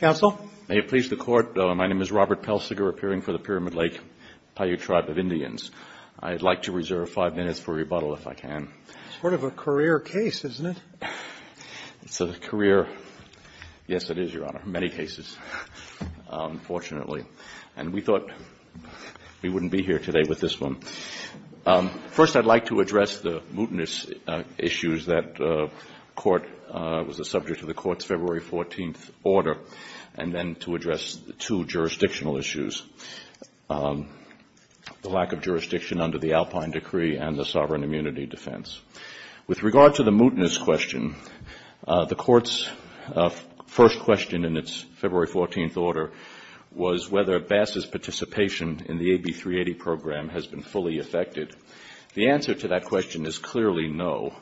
May it please the Court, my name is Robert Pelsiger, appearing for the Pyramid Lake Paiute Tribe of Indians. I'd like to reserve five minutes for rebuttal if I can. It's sort of a career case, isn't it? It's a career, yes, it is, Your Honor, many cases, fortunately. And we thought we wouldn't be here today with this one. First, I'd like to address the mootness issues that the Court was a subject of the Court's February 14th order, and then to address two jurisdictional issues, the lack of jurisdiction under the Alpine Decree and the Sovereign Immunity Defense. With regard to the mootness question, the Court's first question in its February 14th order was whether Bass's participation in the AB 380 program has been fully affected. The answer to that question is clearly no.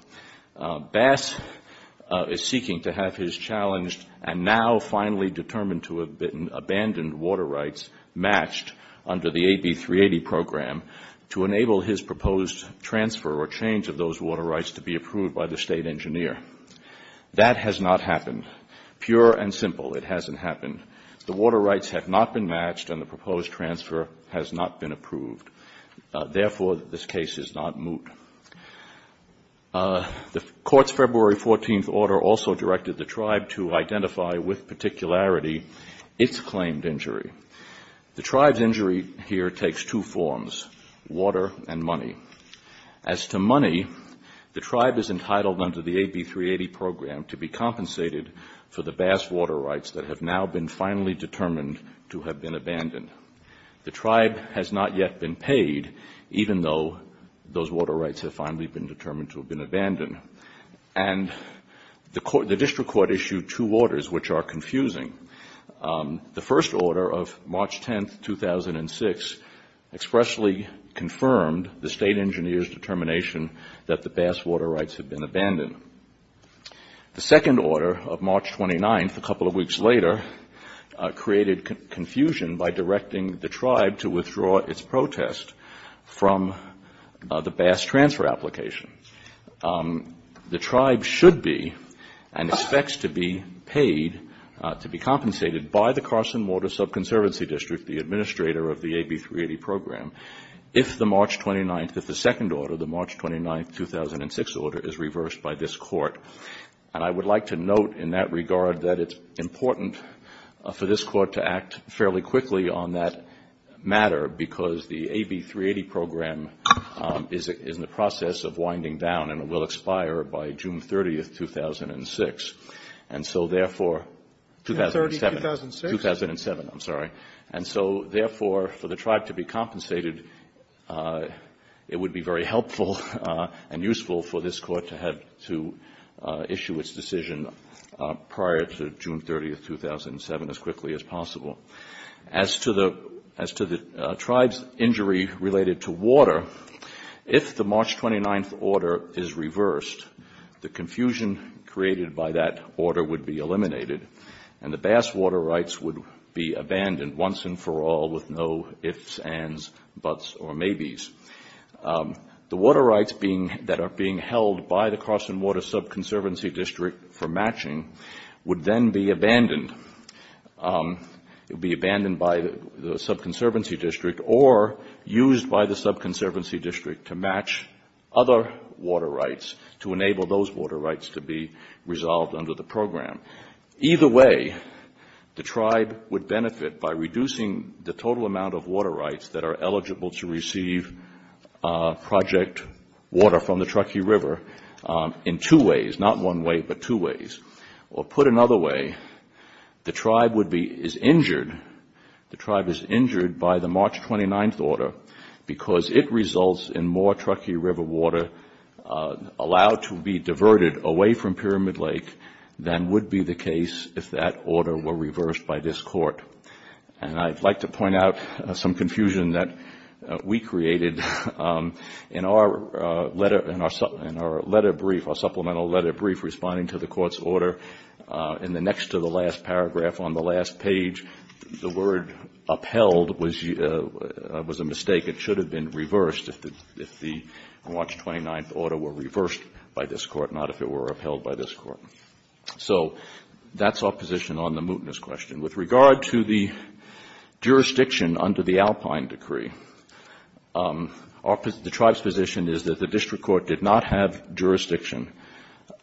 Bass is seeking to have his challenged and now finally determined to have been abandoned water rights matched under the AB 380 program to enable his proposed transfer or change of those water rights to be approved by the State Engineer. That has not happened. Pure and simple, it hasn't happened. The water rights have not been matched and the proposed transfer has not been approved. Therefore, this case is not moot. The Court's February 14th order also directed the Tribe to identify with particularity its claimed injury. The Tribe's injury here takes two forms, water and money. As to money, the Tribe is entitled under the AB 380 program to be compensated for the Bass water rights that have now been finally determined to have been abandoned. The Tribe has not yet been paid even though those water rights have finally been determined to have been abandoned. And the District Court issued two orders which are confusing. The first order of March 10th, 2006 expressly confirmed the State Engineer's determination that the Bass water rights have been abandoned. The second order of March 29th, a couple of weeks later, created confusion by directing the Tribe to withdraw its protest from the Bass transfer application. The Tribe should be and expects to be paid, to be compensated by the Carson Water Sub-Conservancy District, the administrator of the AB 380 program, if the March 29th, if the second order, the March 30th, 2006, to be compensated by this Court. And I would like to note in that regard that it's important for this Court to act fairly quickly on that matter, because the AB 380 program is in the process of winding down and it will expire by June 30th, 2006. And so, therefore, 2007, 2007, I'm sorry. And so, therefore, for the Tribe to be compensated, it would be very helpful and useful for this Court to have, to have, to have, to have to issue its decision prior to June 30th, 2007, as quickly as possible. As to the, as to the Tribe's injury related to water, if the March 29th order is reversed, the confusion created by that order would be eliminated and the Bass water rights would be abandoned once and for all with no ifs, ands, buts, or maybes. The water rights being, that are being held by the Carson Water Sub-Conservancy District for matching would then be abandoned. It would be abandoned by the Sub-Conservancy District or used by the Sub-Conservancy District to match other water rights to enable those water rights to be resolved under the program. Either way, the Tribe would benefit by reducing the total amount of water rights that are on the Truckee River in two ways, not one way, but two ways. Or put another way, the Tribe would be, is injured, the Tribe is injured by the March 29th order because it results in more Truckee River water allowed to be diverted away from Pyramid Lake than would be the case if that order were reversed by this Court. And I'd like to point out some in our letter brief, our supplemental letter brief responding to the Court's order in the next to the last paragraph on the last page, the word upheld was a mistake. It should have been reversed if the March 29th order were reversed by this Court, not if it were upheld by this Court. So that's our position on the mootness question. With regard to the jurisdiction under the Alpine Decree, the District Court did not have jurisdiction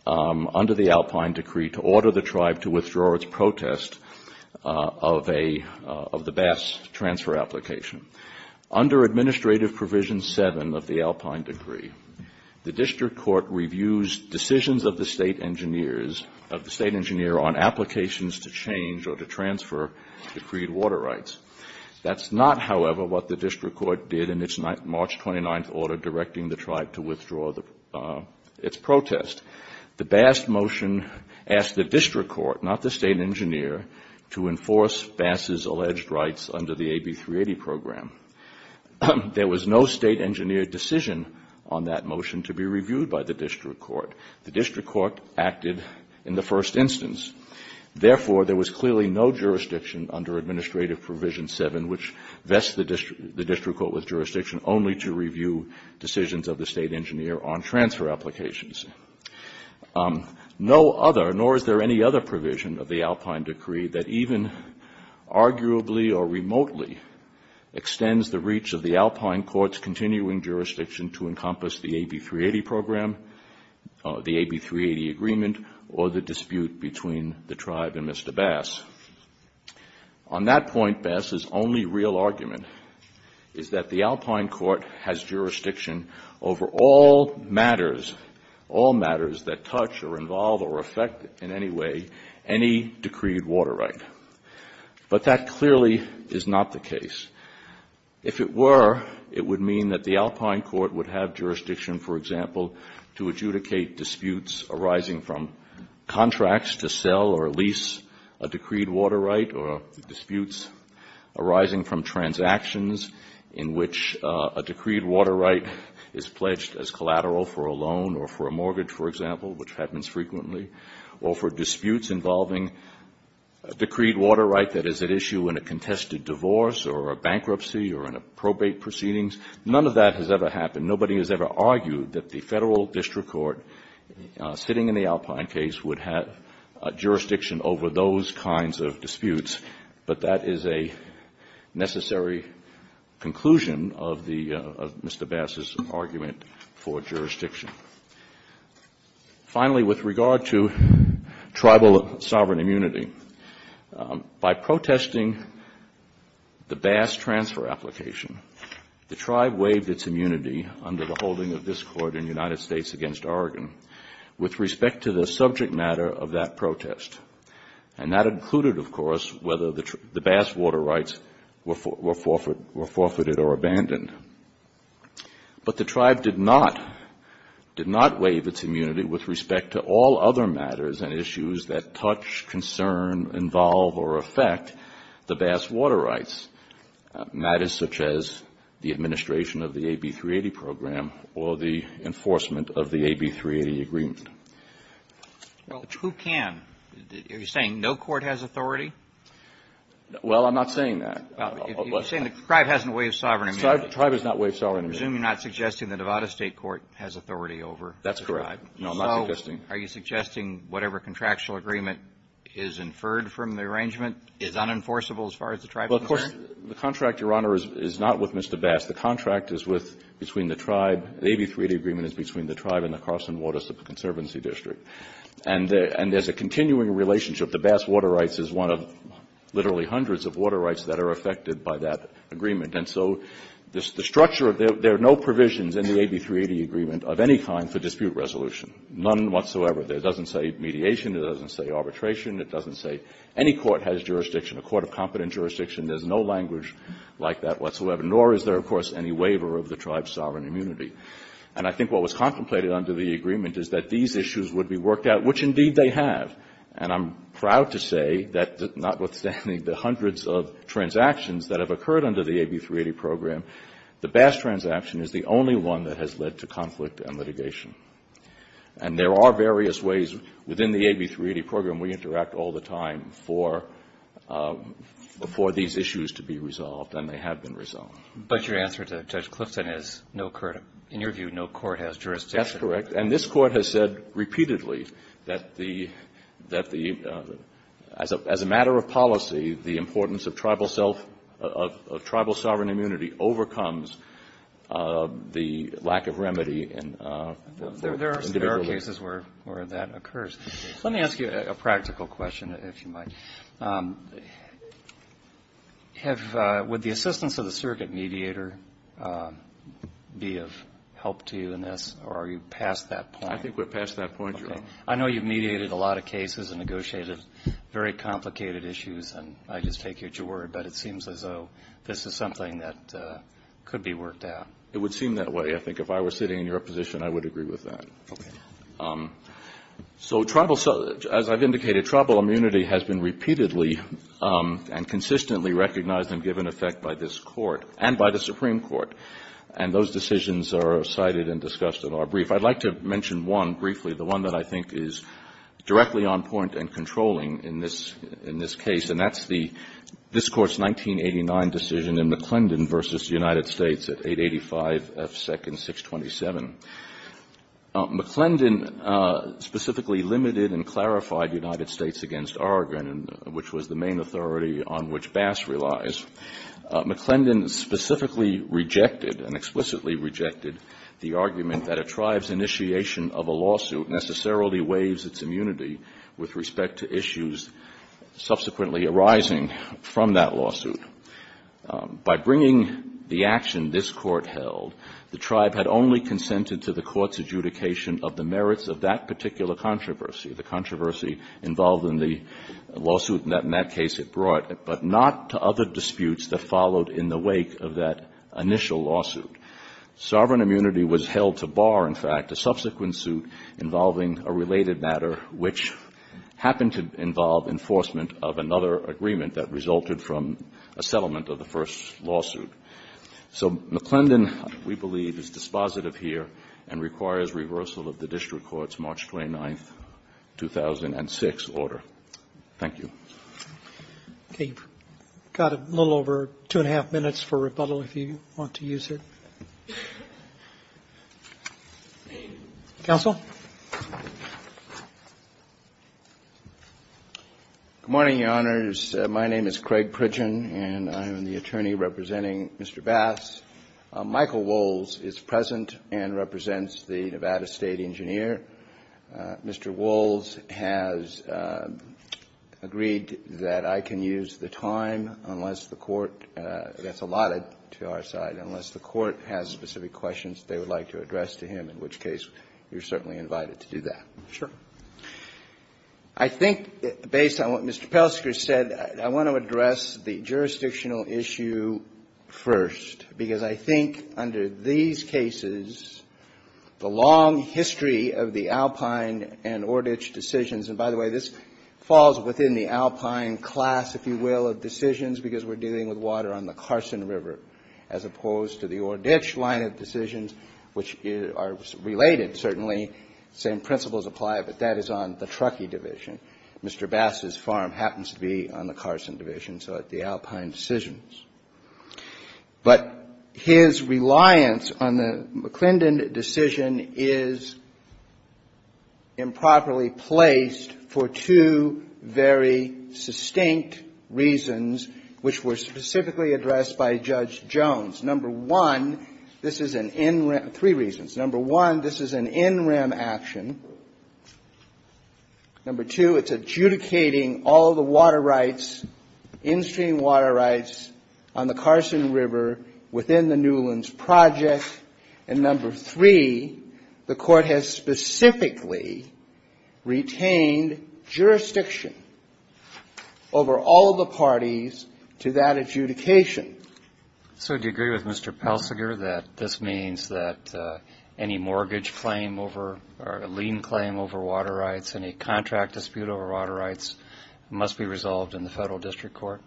under the Alpine Decree to order the Tribe to withdraw its protest of a, of the bass transfer application. Under Administrative Provision 7 of the Alpine Decree, the District Court reviews decisions of the State Engineers, of the State Engineer on applications to change or to transfer decreed water rights. That's not, however, what the District Court did in its March 29th order directing the Tribe to withdraw the, its protest. The Bass motion asked the District Court, not the State Engineer, to enforce Bass's alleged rights under the AB 380 program. There was no State Engineer decision on that motion to be reviewed by the District Court. The District Court acted in the first instance. Therefore there was clearly no jurisdiction under Administrative Provision 7 which vests the District Court with jurisdiction only to review decisions of the State Engineer on transfer applications. No other, nor is there any other provision of the Alpine Decree that even arguably or remotely extends the reach of the Alpine Court's continuing jurisdiction to encompass the AB 380 program, the AB 380 agreement, or the dispute between the Tribe and Mr. Bass. On that point, Bass's only real argument is that the Alpine Court has jurisdiction over all matters, all matters that touch or involve or affect in any way any decreed water right. But that clearly is not the case. If it were, it would mean that the Alpine Court would have jurisdiction, for example, to adjudicate disputes arising from contracts to sell or a decreed water right or disputes arising from transactions in which a decreed water right is pledged as collateral for a loan or for a mortgage, for example, which happens frequently, or for disputes involving a decreed water right that is at issue in a contested divorce or a bankruptcy or in a probate proceedings. None of that has ever happened. Nobody has ever argued that the Federal District Court, sitting in the Alpine case, would have jurisdiction over those kinds of disputes, but that is a necessary conclusion of the Mr. Bass's argument for jurisdiction. Finally, with regard to Tribal sovereign immunity, by protesting the Bass transfer application, the Tribe waived its immunity under the holding of this Court in the United States against and that included, of course, whether the Bass water rights were forfeited or abandoned. But the Tribe did not, did not waive its immunity with respect to all other matters and issues that touch, concern, involve or affect the Bass water rights, matters such as the administration of the AB 380 program or the enforcement of the AB 380 agreement. Well, who can? Are you saying no court has authority? Well, I'm not saying that. You're saying the Tribe hasn't waived sovereign immunity. The Tribe has not waived sovereign immunity. I presume you're not suggesting the Nevada State court has authority over the Tribe. That's correct. No, I'm not suggesting. So are you suggesting whatever contractual agreement is inferred from the arrangement is unenforceable as far as the Tribe is concerned? Well, of course, the contract, Your Honor, is not with Mr. Bass. The contract is with, between the Tribe, the AB 380 agreement is between the Tribe and the Carson Water Conservancy District. And there's a continuing relationship. The Bass water rights is one of literally hundreds of water rights that are affected by that agreement. And so the structure, there are no provisions in the AB 380 agreement of any kind for dispute resolution, none whatsoever. It doesn't say mediation, it doesn't say arbitration, it doesn't say any court has jurisdiction, a court of competent jurisdiction. There's no language like that whatsoever, nor is there, of course, any waiver of the Tribe's sovereign immunity. And I think what was contemplated under the agreement is that these issues would be worked out, which indeed they have. And I'm proud to say that notwithstanding the hundreds of transactions that have occurred under the AB 380 program, the Bass transaction is the only one that has led to conflict and litigation. And there are various ways within the AB 380 program we interact all the time for these issues to be resolved, and they have been resolved. But your answer to Judge Clifton is, in your view, no court has jurisdiction. That's correct. And this Court has said repeatedly that the, as a matter of policy, the importance of Tribal sovereign immunity overcomes the lack of remedy in individual cases. There are cases where that occurs. Let me ask you a practical question, if you might. Would the assistance of the surrogate mediator be of help to you in this, or are you past that point? I think we're past that point, Your Honor. I know you've mediated a lot of cases and negotiated very complicated issues, and I just take it you're worried. But it seems as though this is something that could be worked out. It would seem that way, I think. If I were sitting in your position, I would agree with that. Okay. So, as I've indicated, Tribal immunity has been repeatedly and consistently recognized and given effect by this Court, and by the Supreme Court, and those decisions are cited and discussed in our brief. I'd like to mention one briefly, the one that I think is directly on point and controlling in this case, and that's this Court's 1989 decision in McClendon v. United States at 885 F. Sec. 627. McClendon specifically limited and clarified United States against Oregon, which was the main authority on which Bass relies. McClendon specifically rejected and explicitly rejected the argument that a tribe's initiation of a lawsuit necessarily waives its immunity with respect to issues subsequently arising from that lawsuit. By bringing the action this Court held, the tribe had only consented to the Court's adjudication of the merits of that particular controversy, the controversy involved in the lawsuit in that case it brought, but not to other disputes that followed in the wake of that initial lawsuit. Sovereign immunity was held to bar, in fact, a subsequent suit involving a related matter which happened to involve enforcement of another agreement that resulted from a settlement of the first lawsuit. So McClendon, we believe, is dispositive here and requires reversal of the district court's March 29, 2006, order. Thank you. Roberts. You've got a little over two and a half minutes for rebuttal if you want to use it. Counsel? Good morning, Your Honors. My name is Craig Pridgen, and I am the attorney representing Mr. Bass. Michael Wohls is present and represents the Nevada State Engineer. Mr. Wohls has agreed that I can use the time unless the Court gets allotted to our side, unless the Court has specific questions they would like to address to him, in which case you're certainly invited to do that. Sure. I think, based on what Mr. Pelsker said, I want to address the jurisdictional issue first, because I think under these cases, the long history of the Alpine and Ordich decisions, and by the way, this falls within the Alpine class, if you will, of decisions, because we're dealing with water on the Carson River, as opposed to the Ordich line of decisions, which are related, certainly, same principles apply, but that is on the Truckee division. Mr. Bass's farm happens to be on the Carson division, so the Alpine decisions. But his reliance on the McClendon decision is improperly placed for two very sustained reasons, which were specifically addressed by Judge Jones. Number one, this is an in-rem – three reasons. Number one, this is an in-rem action. Number two, it's adjudicating all the water rights, in-stream water rights, on the Carson River within the Newlands Project. And number three, the Court has specifically retained jurisdiction over all the parties to that adjudication. So do you agree with Mr. Pelsiger that this means that any mortgage claim over or lien claim over water rights, any contract dispute over water rights must be resolved in the Federal District Court?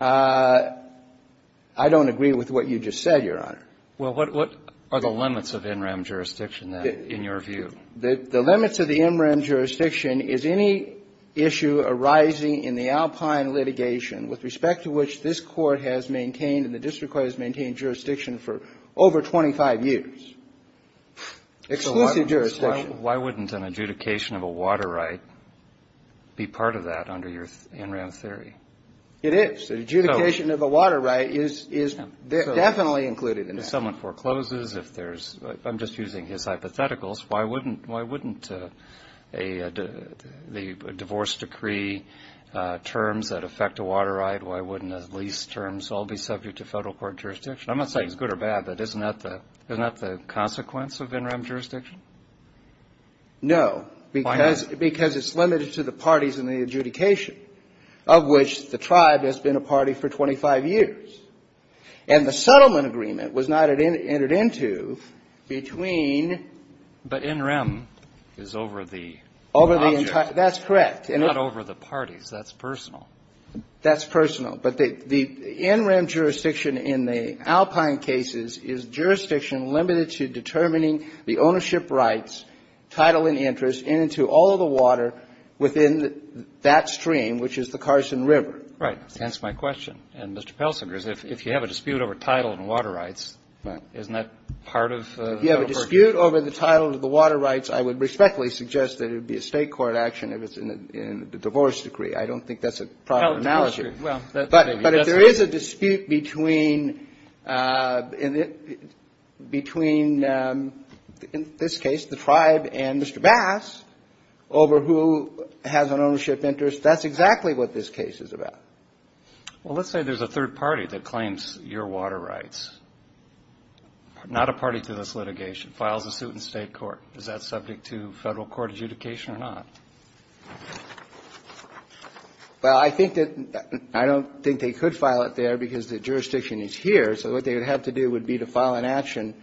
I don't agree with what you just said, Your Honor. Well, what are the limits of in-rem jurisdiction, then, in your view? The limits of the in-rem jurisdiction is any issue arising in the Alpine litigation with respect to which this Court has maintained and the District Court has maintained jurisdiction for over 25 years. Exclusive jurisdiction. Why wouldn't an adjudication of a water right be part of that under your in-rem theory? It is. An adjudication of a water right is definitely included in that. If someone forecloses, if there's – I'm just using his hypotheticals. Why wouldn't a – the divorce decree terms that affect a water right, why wouldn't at least terms all be subject to Federal court jurisdiction? I'm not saying it's good or bad, but isn't that the consequence of in-rem jurisdiction? No. Why not? Because it's limited to the parties in the adjudication of which the tribe has been a party for 25 years. And the settlement agreement was not entered into between – But in-rem is over the object. That's correct. Not over the parties. That's personal. That's personal. But the in-rem jurisdiction in the Alpine cases is jurisdiction limited to determining the ownership rights, title and interest, and into all of the water within that stream, which is the Carson River. Right. That's my question. And, Mr. Pelsinger, if you have a dispute over title and water rights, isn't that part of Federal court jurisdiction? If you have a dispute over the title and the water rights, I would respectfully suggest that it would be a State court action if it's in the divorce decree. I don't think that's a proper analogy. Well, that's maybe. But if there is a dispute between, in this case, the tribe and Mr. Bass, over who has an ownership interest, that's exactly what this case is about. Well, let's say there's a third party that claims your water rights, not a party to this litigation, files a suit in State court. Is that subject to Federal court adjudication or not? Well, I think that they could file it there because the jurisdiction is here. So what they would have to do would be to file an action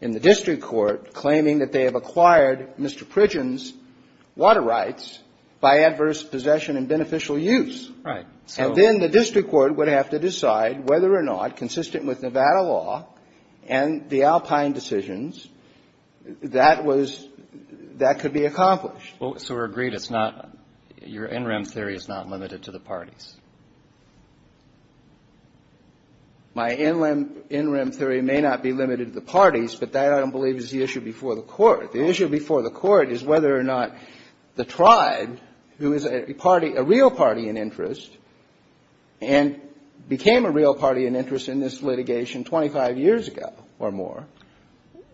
in the district court claiming that they have acquired Mr. Pridgen's water rights by adverse possession and beneficial use. Right. And then the district court would have to decide whether or not, consistent with Nevada law and the Alpine decisions, that was — that could be accomplished. So we're agreed it's not — your in-rim theory is not limited to the parties? My in-rim theory may not be limited to the parties, but that, I don't believe, is the issue before the court. The issue before the court is whether or not the tribe, who is a party — a real party in interest, and became a real party in interest in this litigation 25 years ago or more.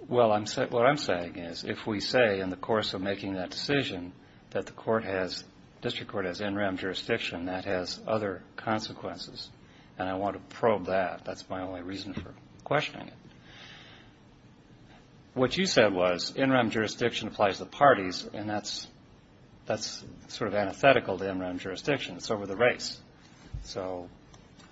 Well, I'm — what I'm saying is, if we say in the course of making that decision that the court has — district court has in-rim jurisdiction, that has other consequences, and I want to probe that. That's my only reason for questioning it. What you said was in-rim jurisdiction applies to parties, and that's — that's sort of antithetical to in-rim jurisdiction. It's over the race. So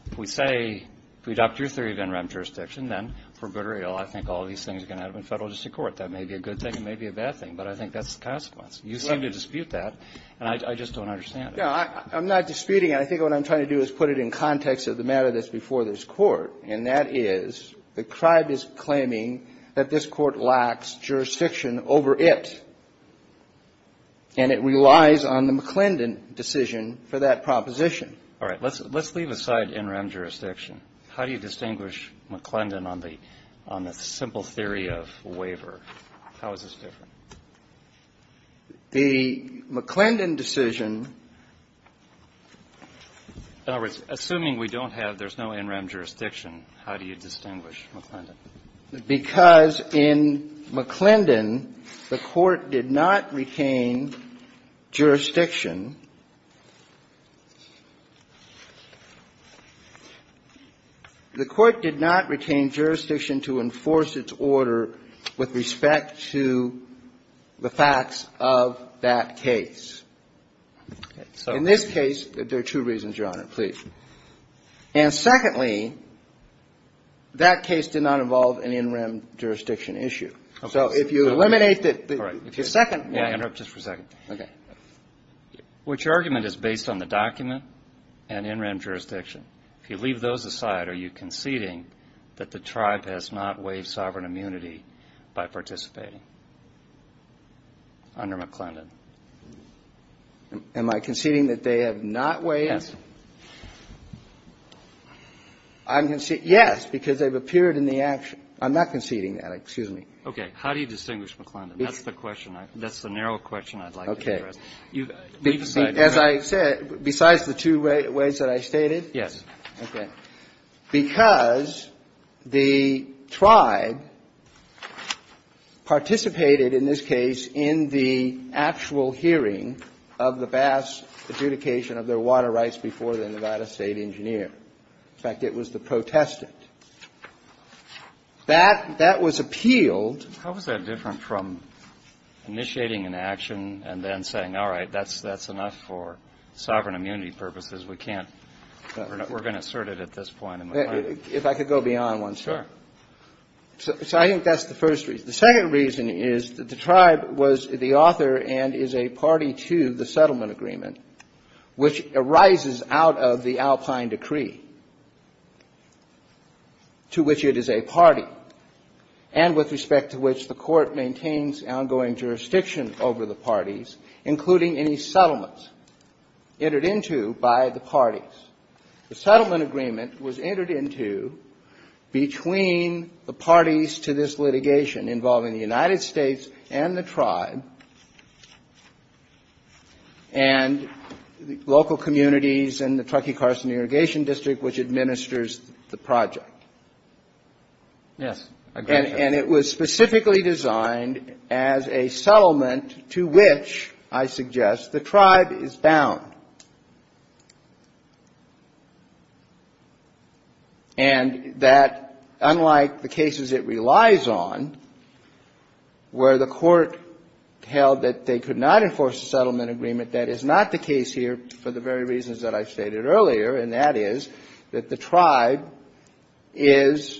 if we say — if we adopt your theory of in-rim jurisdiction, then for good or ill, I think all of these things are going to happen in federal district court. That may be a good thing. It may be a bad thing. But I think that's the consequence. You seem to dispute that, and I just don't understand it. No. I'm not disputing it. I think what I'm trying to do is put it in context of the matter that's before this court. And that is, the tribe is claiming that this court lacks jurisdiction over it, and it relies on the McClendon decision for that proposition. All right. Let's — let's leave aside in-rim jurisdiction. How do you distinguish McClendon on the — on the simple theory of waiver? How is this different? The McClendon decision — In other words, assuming we don't have — there's no in-rim jurisdiction, how do you distinguish McClendon? Because in McClendon, the court did not retain jurisdiction. The court did not retain jurisdiction to enforce its order with respect to the facts of that case. Okay. So — In this case, there are two reasons, Your Honor, please. And secondly, that case did not involve an in-rim jurisdiction issue. Okay. So if you eliminate the — All right. If you second — May I interrupt just for a second? Okay. Which argument is based on the document and in-rim jurisdiction? If you leave those aside, are you conceding that the tribe has not waived sovereign immunity Am I conceding that they have not waived — Yes. I'm conceding — yes, because they've appeared in the — I'm not conceding that. Excuse me. Okay. How do you distinguish McClendon? That's the question. That's the narrow question I'd like to address. Okay. As I said, besides the two ways that I stated? Yes. Okay. Because the tribe participated in this case in the actual hearing of the Bass adjudication of their water rights before the Nevada State engineer. In fact, it was the protestant. That — that was appealed — How is that different from initiating an action and then saying, all right, that's enough for sovereign immunity purposes. We can't — we're going to assert it at this point in McClendon. If I could go beyond one step. Sure. So I think that's the first reason. The second reason is that the tribe was the author and is a party to the settlement agreement, which arises out of the Alpine decree, to which it is a party, and with respect to which the court maintains ongoing jurisdiction over the parties, including any settlements entered into by the parties. The settlement agreement was entered into between the parties to this litigation involving the United States and the tribe and local communities and the Truckee Carson Irrigation District, which administers the project. Yes. And it was specifically designed as a settlement to which, I suggest, the tribe is bound. And that, unlike the cases it relies on, where the court held that they could not enforce a settlement agreement, that is not the case here for the very reasons that I've stated earlier, and that is that the tribe is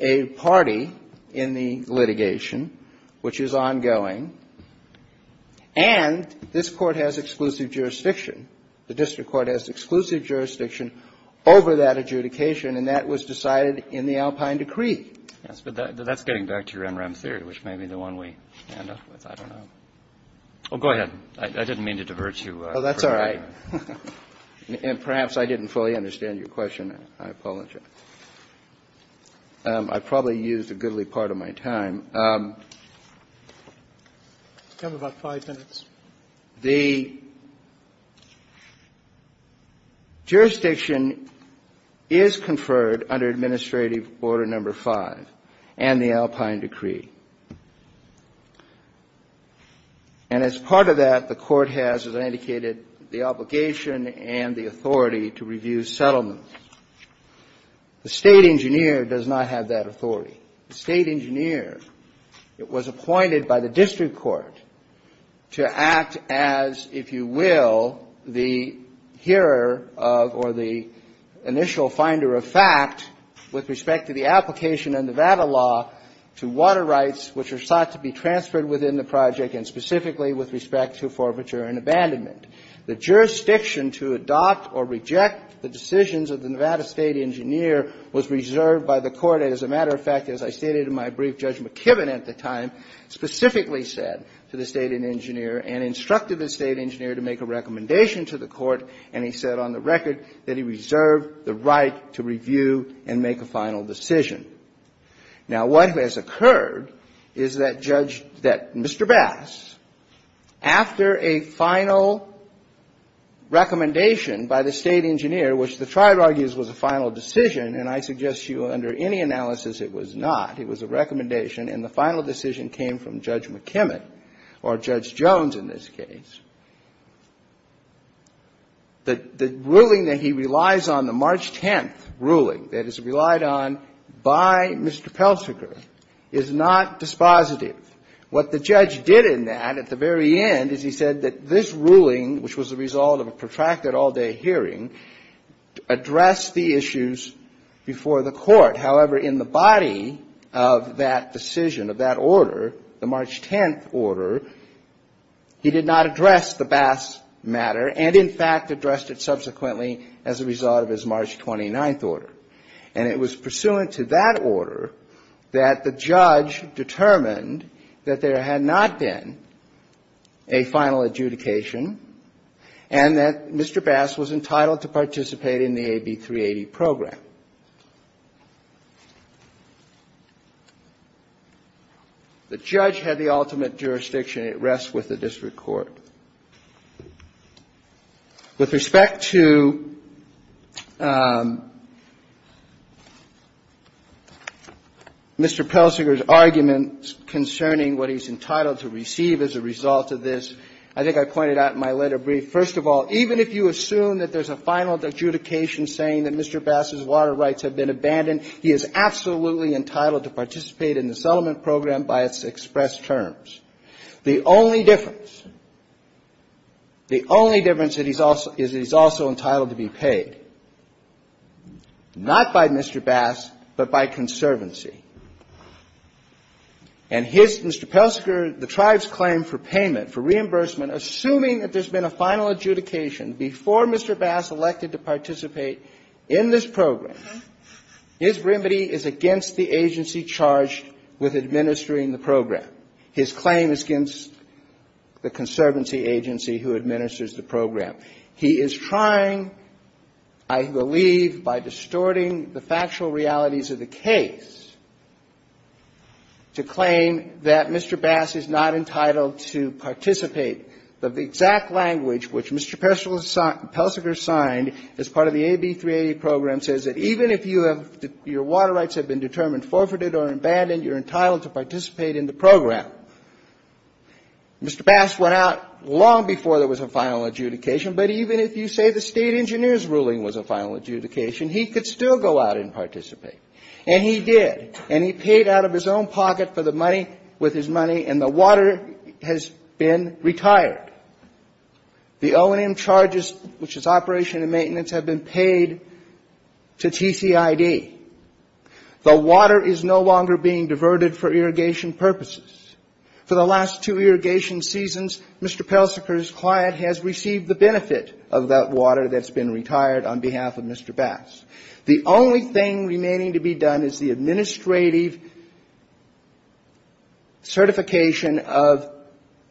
a party in the litigation, which is ongoing, and this Court has exclusive jurisdiction. The district court has exclusive jurisdiction over that adjudication, and that was decided in the Alpine decree. Yes, but that's getting back to your MRM theory, which may be the one we end up with. I don't know. Oh, go ahead. I didn't mean to divert you. Oh, that's all right. And perhaps I didn't fully understand your question. I apologize. I probably used a goodly part of my time. You have about five minutes. The jurisdiction is conferred under Administrative Order No. 5 and the Alpine decree. And as part of that, the court has, as I indicated, the obligation and the authority to review settlements. The State engineer does not have that authority. The State engineer was appointed by the district court to act as, if you will, the hearer of or the initial finder of fact with respect to the application of Nevada law to water rights, which are sought to be transferred within the project, and specifically with respect to forfeiture and abandonment. The jurisdiction to adopt or reject the decisions of the Nevada State engineer was reserved by the court. As a matter of fact, as I stated in my brief, Judge McKibben at the time specifically said to the State engineer and instructed the State engineer to make a recommendation to the court, and he said on the record that he reserved the right to review and make a final decision. Now, what has occurred is that judge, that Mr. Bass, after a final recommendation by the State engineer, which the trial argues was a final decision, and I suggest to you under any analysis it was not, it was a recommendation, and the final decision came from Judge McKibben, or Judge Jones in this case, the ruling that he relies on, the March 10th ruling that is relied on by Mr. Peltziger, is not dispositive. What the judge did in that at the very end is he said that this ruling, which was the body of that decision, of that order, the March 10th order, he did not address the Bass matter, and in fact addressed it subsequently as a result of his March 29th order. And it was pursuant to that order that the judge determined that there had not been a final adjudication, and that Mr. Bass was entitled to participate in the AB 380 program. The judge had the ultimate jurisdiction, and it rests with the district court. With respect to Mr. Peltziger's argument concerning what he's entitled to receive as a result of this, I think I pointed out in my letter brief, first of all, even if you assume that there's a final adjudication saying that Mr. Bass' water rights have been abandoned, he is absolutely entitled to participate in the settlement program by its expressed terms. The only difference, the only difference is that he's also entitled to be paid, not by Mr. Bass, but by conservancy. And his, Mr. Peltziger, the tribe's claim for payment, for reimbursement, assuming that there's been a final adjudication before Mr. Bass elected to participate in this program, his remedy is against the agency charged with administering the program. His claim is against the conservancy agency who administers the program. He is trying, I believe, by distorting the factual realities of the case to claim that Mr. Bass is not entitled to participate. But the exact language which Mr. Peltziger signed as part of the AB 380 program says that even if you have, your water rights have been determined forfeited or abandoned, you're entitled to participate in the program. Mr. Bass went out long before there was a final adjudication, but even if you say the State engineer's ruling was a final adjudication, he could still go out and participate. And he did. And he paid out of his own pocket for the money, with his money, and the water has been retired. The O&M charges, which is operation and maintenance, have been paid to TCID. The water is no longer being diverted for irrigation purposes. For the last two irrigation seasons, Mr. Peltziger's client has received the benefit of that water that's been retired on behalf of Mr. Bass. The only thing remaining to be done is the administrative certification of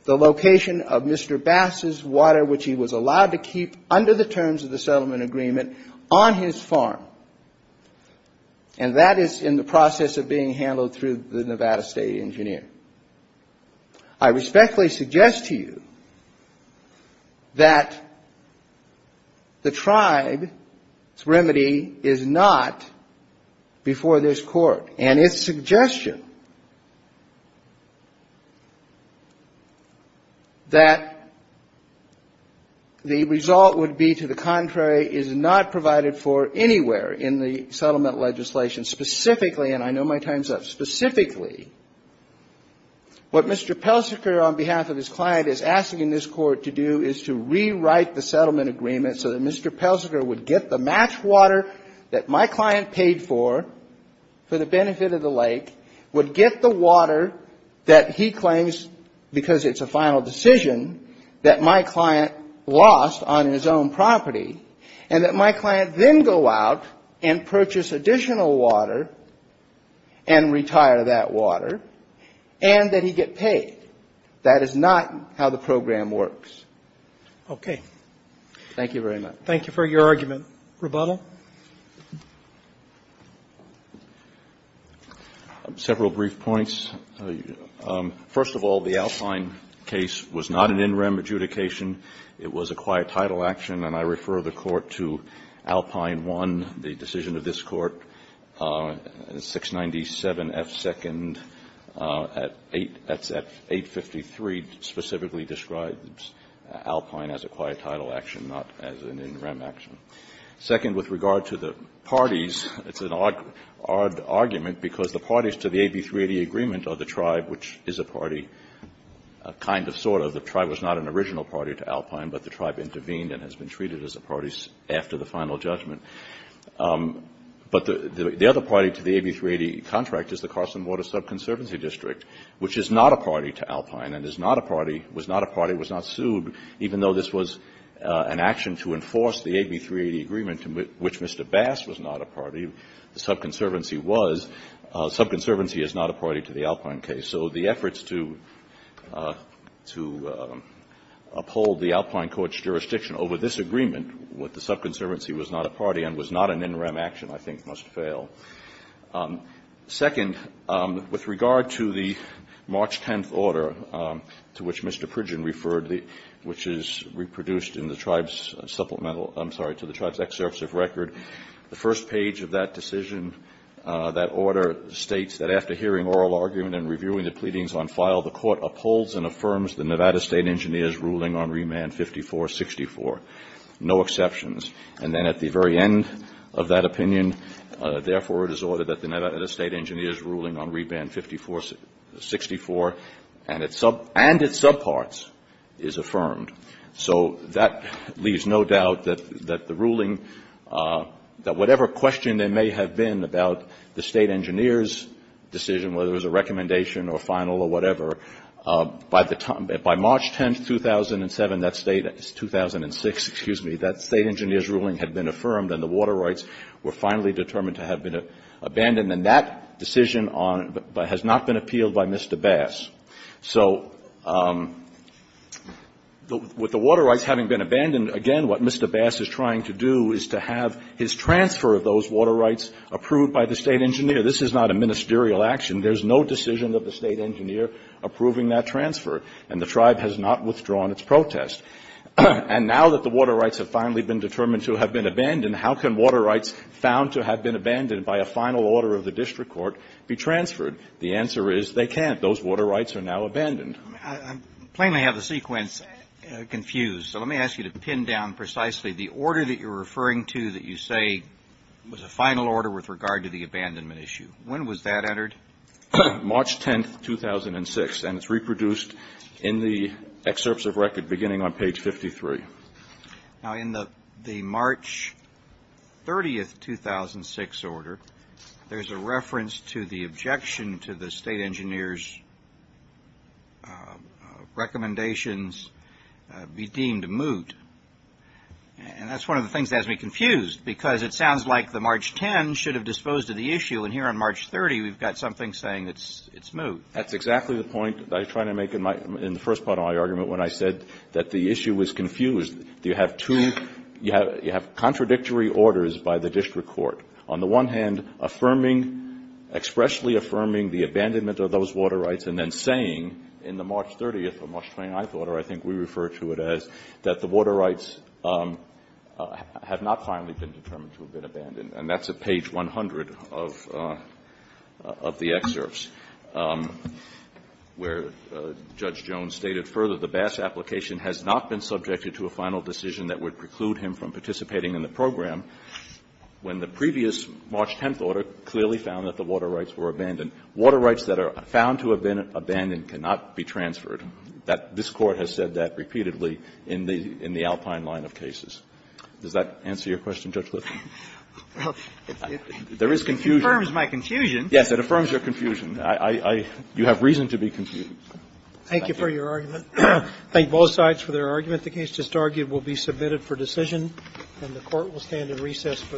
the location of Mr. Bass's water, which he was allowed to keep under the terms of the settlement agreement, on his farm. And that is in the process of being handled through the Nevada State engineer. I respectfully suggest to you that the tribe's remedy is not before this Court. And its suggestion that the result would be to the contrary is not provided for anywhere in the settlement legislation. Specifically, and I know my time is up, specifically, what Mr. Peltziger on behalf of his client is asking this Court to do is to rewrite the settlement agreement so that Mr. Peltziger would get the match water that my client paid for, for the benefit of the lake, would get the water that he claims, because it's a final decision, that my client lost on his own and that he gets paid. That is not how the program works. Okay. Thank you very much. Thank you for your argument. Rebuttal? Several brief points. First of all, the Alpine case was not an in rem adjudication. It was a quiet title action. And I refer the Court to Alpine 1, the decision of this Court, 697F2 at 853 specifically describes Alpine as a quiet title action, not as an in rem action. Second, with regard to the parties, it's an odd argument, because the parties to the AB 380 agreement are the tribe, which is a party, kind of, sort of. The tribe was not an original party to Alpine, but the tribe intervened and has been treated as a party after the final judgment. But the other party to the AB 380 contract is the Carson Water Subconservancy District, which is not a party to Alpine and is not a party, was not a party, was not sued, even though this was an action to enforce the AB 380 agreement, which Mr. Bass was not a party, the subconservancy was. Subconservancy is not a party to the Alpine case. So the efforts to uphold the Alpine Court's jurisdiction over this agreement with the subconservancy was not a party and was not an in rem action, I think, must fail. Second, with regard to the March 10th order to which Mr. Pridgin referred, which is reproduced in the tribe's supplemental, I'm sorry, to the tribe's excerpts of record, the first page of that decision, that order, states that after hearing oral argument and reviewing the pleadings on file, the Court upholds and affirms the Nevada State Engineer's ruling on Remand 5464. No exceptions. And then at the very end of that opinion, therefore, it is ordered that the Nevada State Engineer's ruling on Remand 5464 and its subparts is affirmed. So that leaves no doubt that the ruling, that whatever question there may have been about the State Engineer's decision, whether it was a recommendation or final or whatever, by the time, by March 10th, 2007, that state, 2006, excuse me, that State Engineer's ruling had been affirmed and the water rights were finally determined to have been abandoned. And that decision has not been overturned by Mr. Bass. So with the water rights having been abandoned, again, what Mr. Bass is trying to do is to have his transfer of those water rights approved by the State Engineer. This is not a ministerial action. There's no decision of the State Engineer approving that transfer. And the tribe has not withdrawn its protest. And now that the water rights have finally been determined to have been abandoned, how can water rights found to have been abandoned by a final order of the district court be transferred? The answer is they can't. Those water rights are now abandoned. I plainly have the sequence confused. So let me ask you to pin down precisely the order that you're referring to that you say was a final order with regard to the abandonment issue. When was that entered? March 10th, 2006. And it's reproduced in the excerpts of record beginning on page 53. Now in the March 30th, 2006 order, there's a reference to the objection to the State Engineer's recommendations be deemed moot. And that's one of the things that has me confused. Do you have two contradictory orders by the district court? On the one hand, affirming, expressly affirming the abandonment of those water rights and then saying in the March 30th or March 29th order, I think we refer to it as, that the water rights have not finally been determined to have been abandoned. And that's at page 100 of the excerpts where Judge Jones stated further, the Bass application has not been subjected to a final decision that would preclude him from participating in the program when the previous March 10th order clearly found that the water rights were abandoned. Water rights that are found to have been abandoned cannot be transferred. That this Court has said that repeatedly in the Alpine line of cases. Does that answer your question, Judge Liffman? There is confusion. It confirms my confusion. Yes, it affirms your confusion. I, I, I, you have reason to be confused. Thank you for your argument. Thank both sides for their argument. The case just argued will be submitted for decision, and the Court will stand in recess for the day.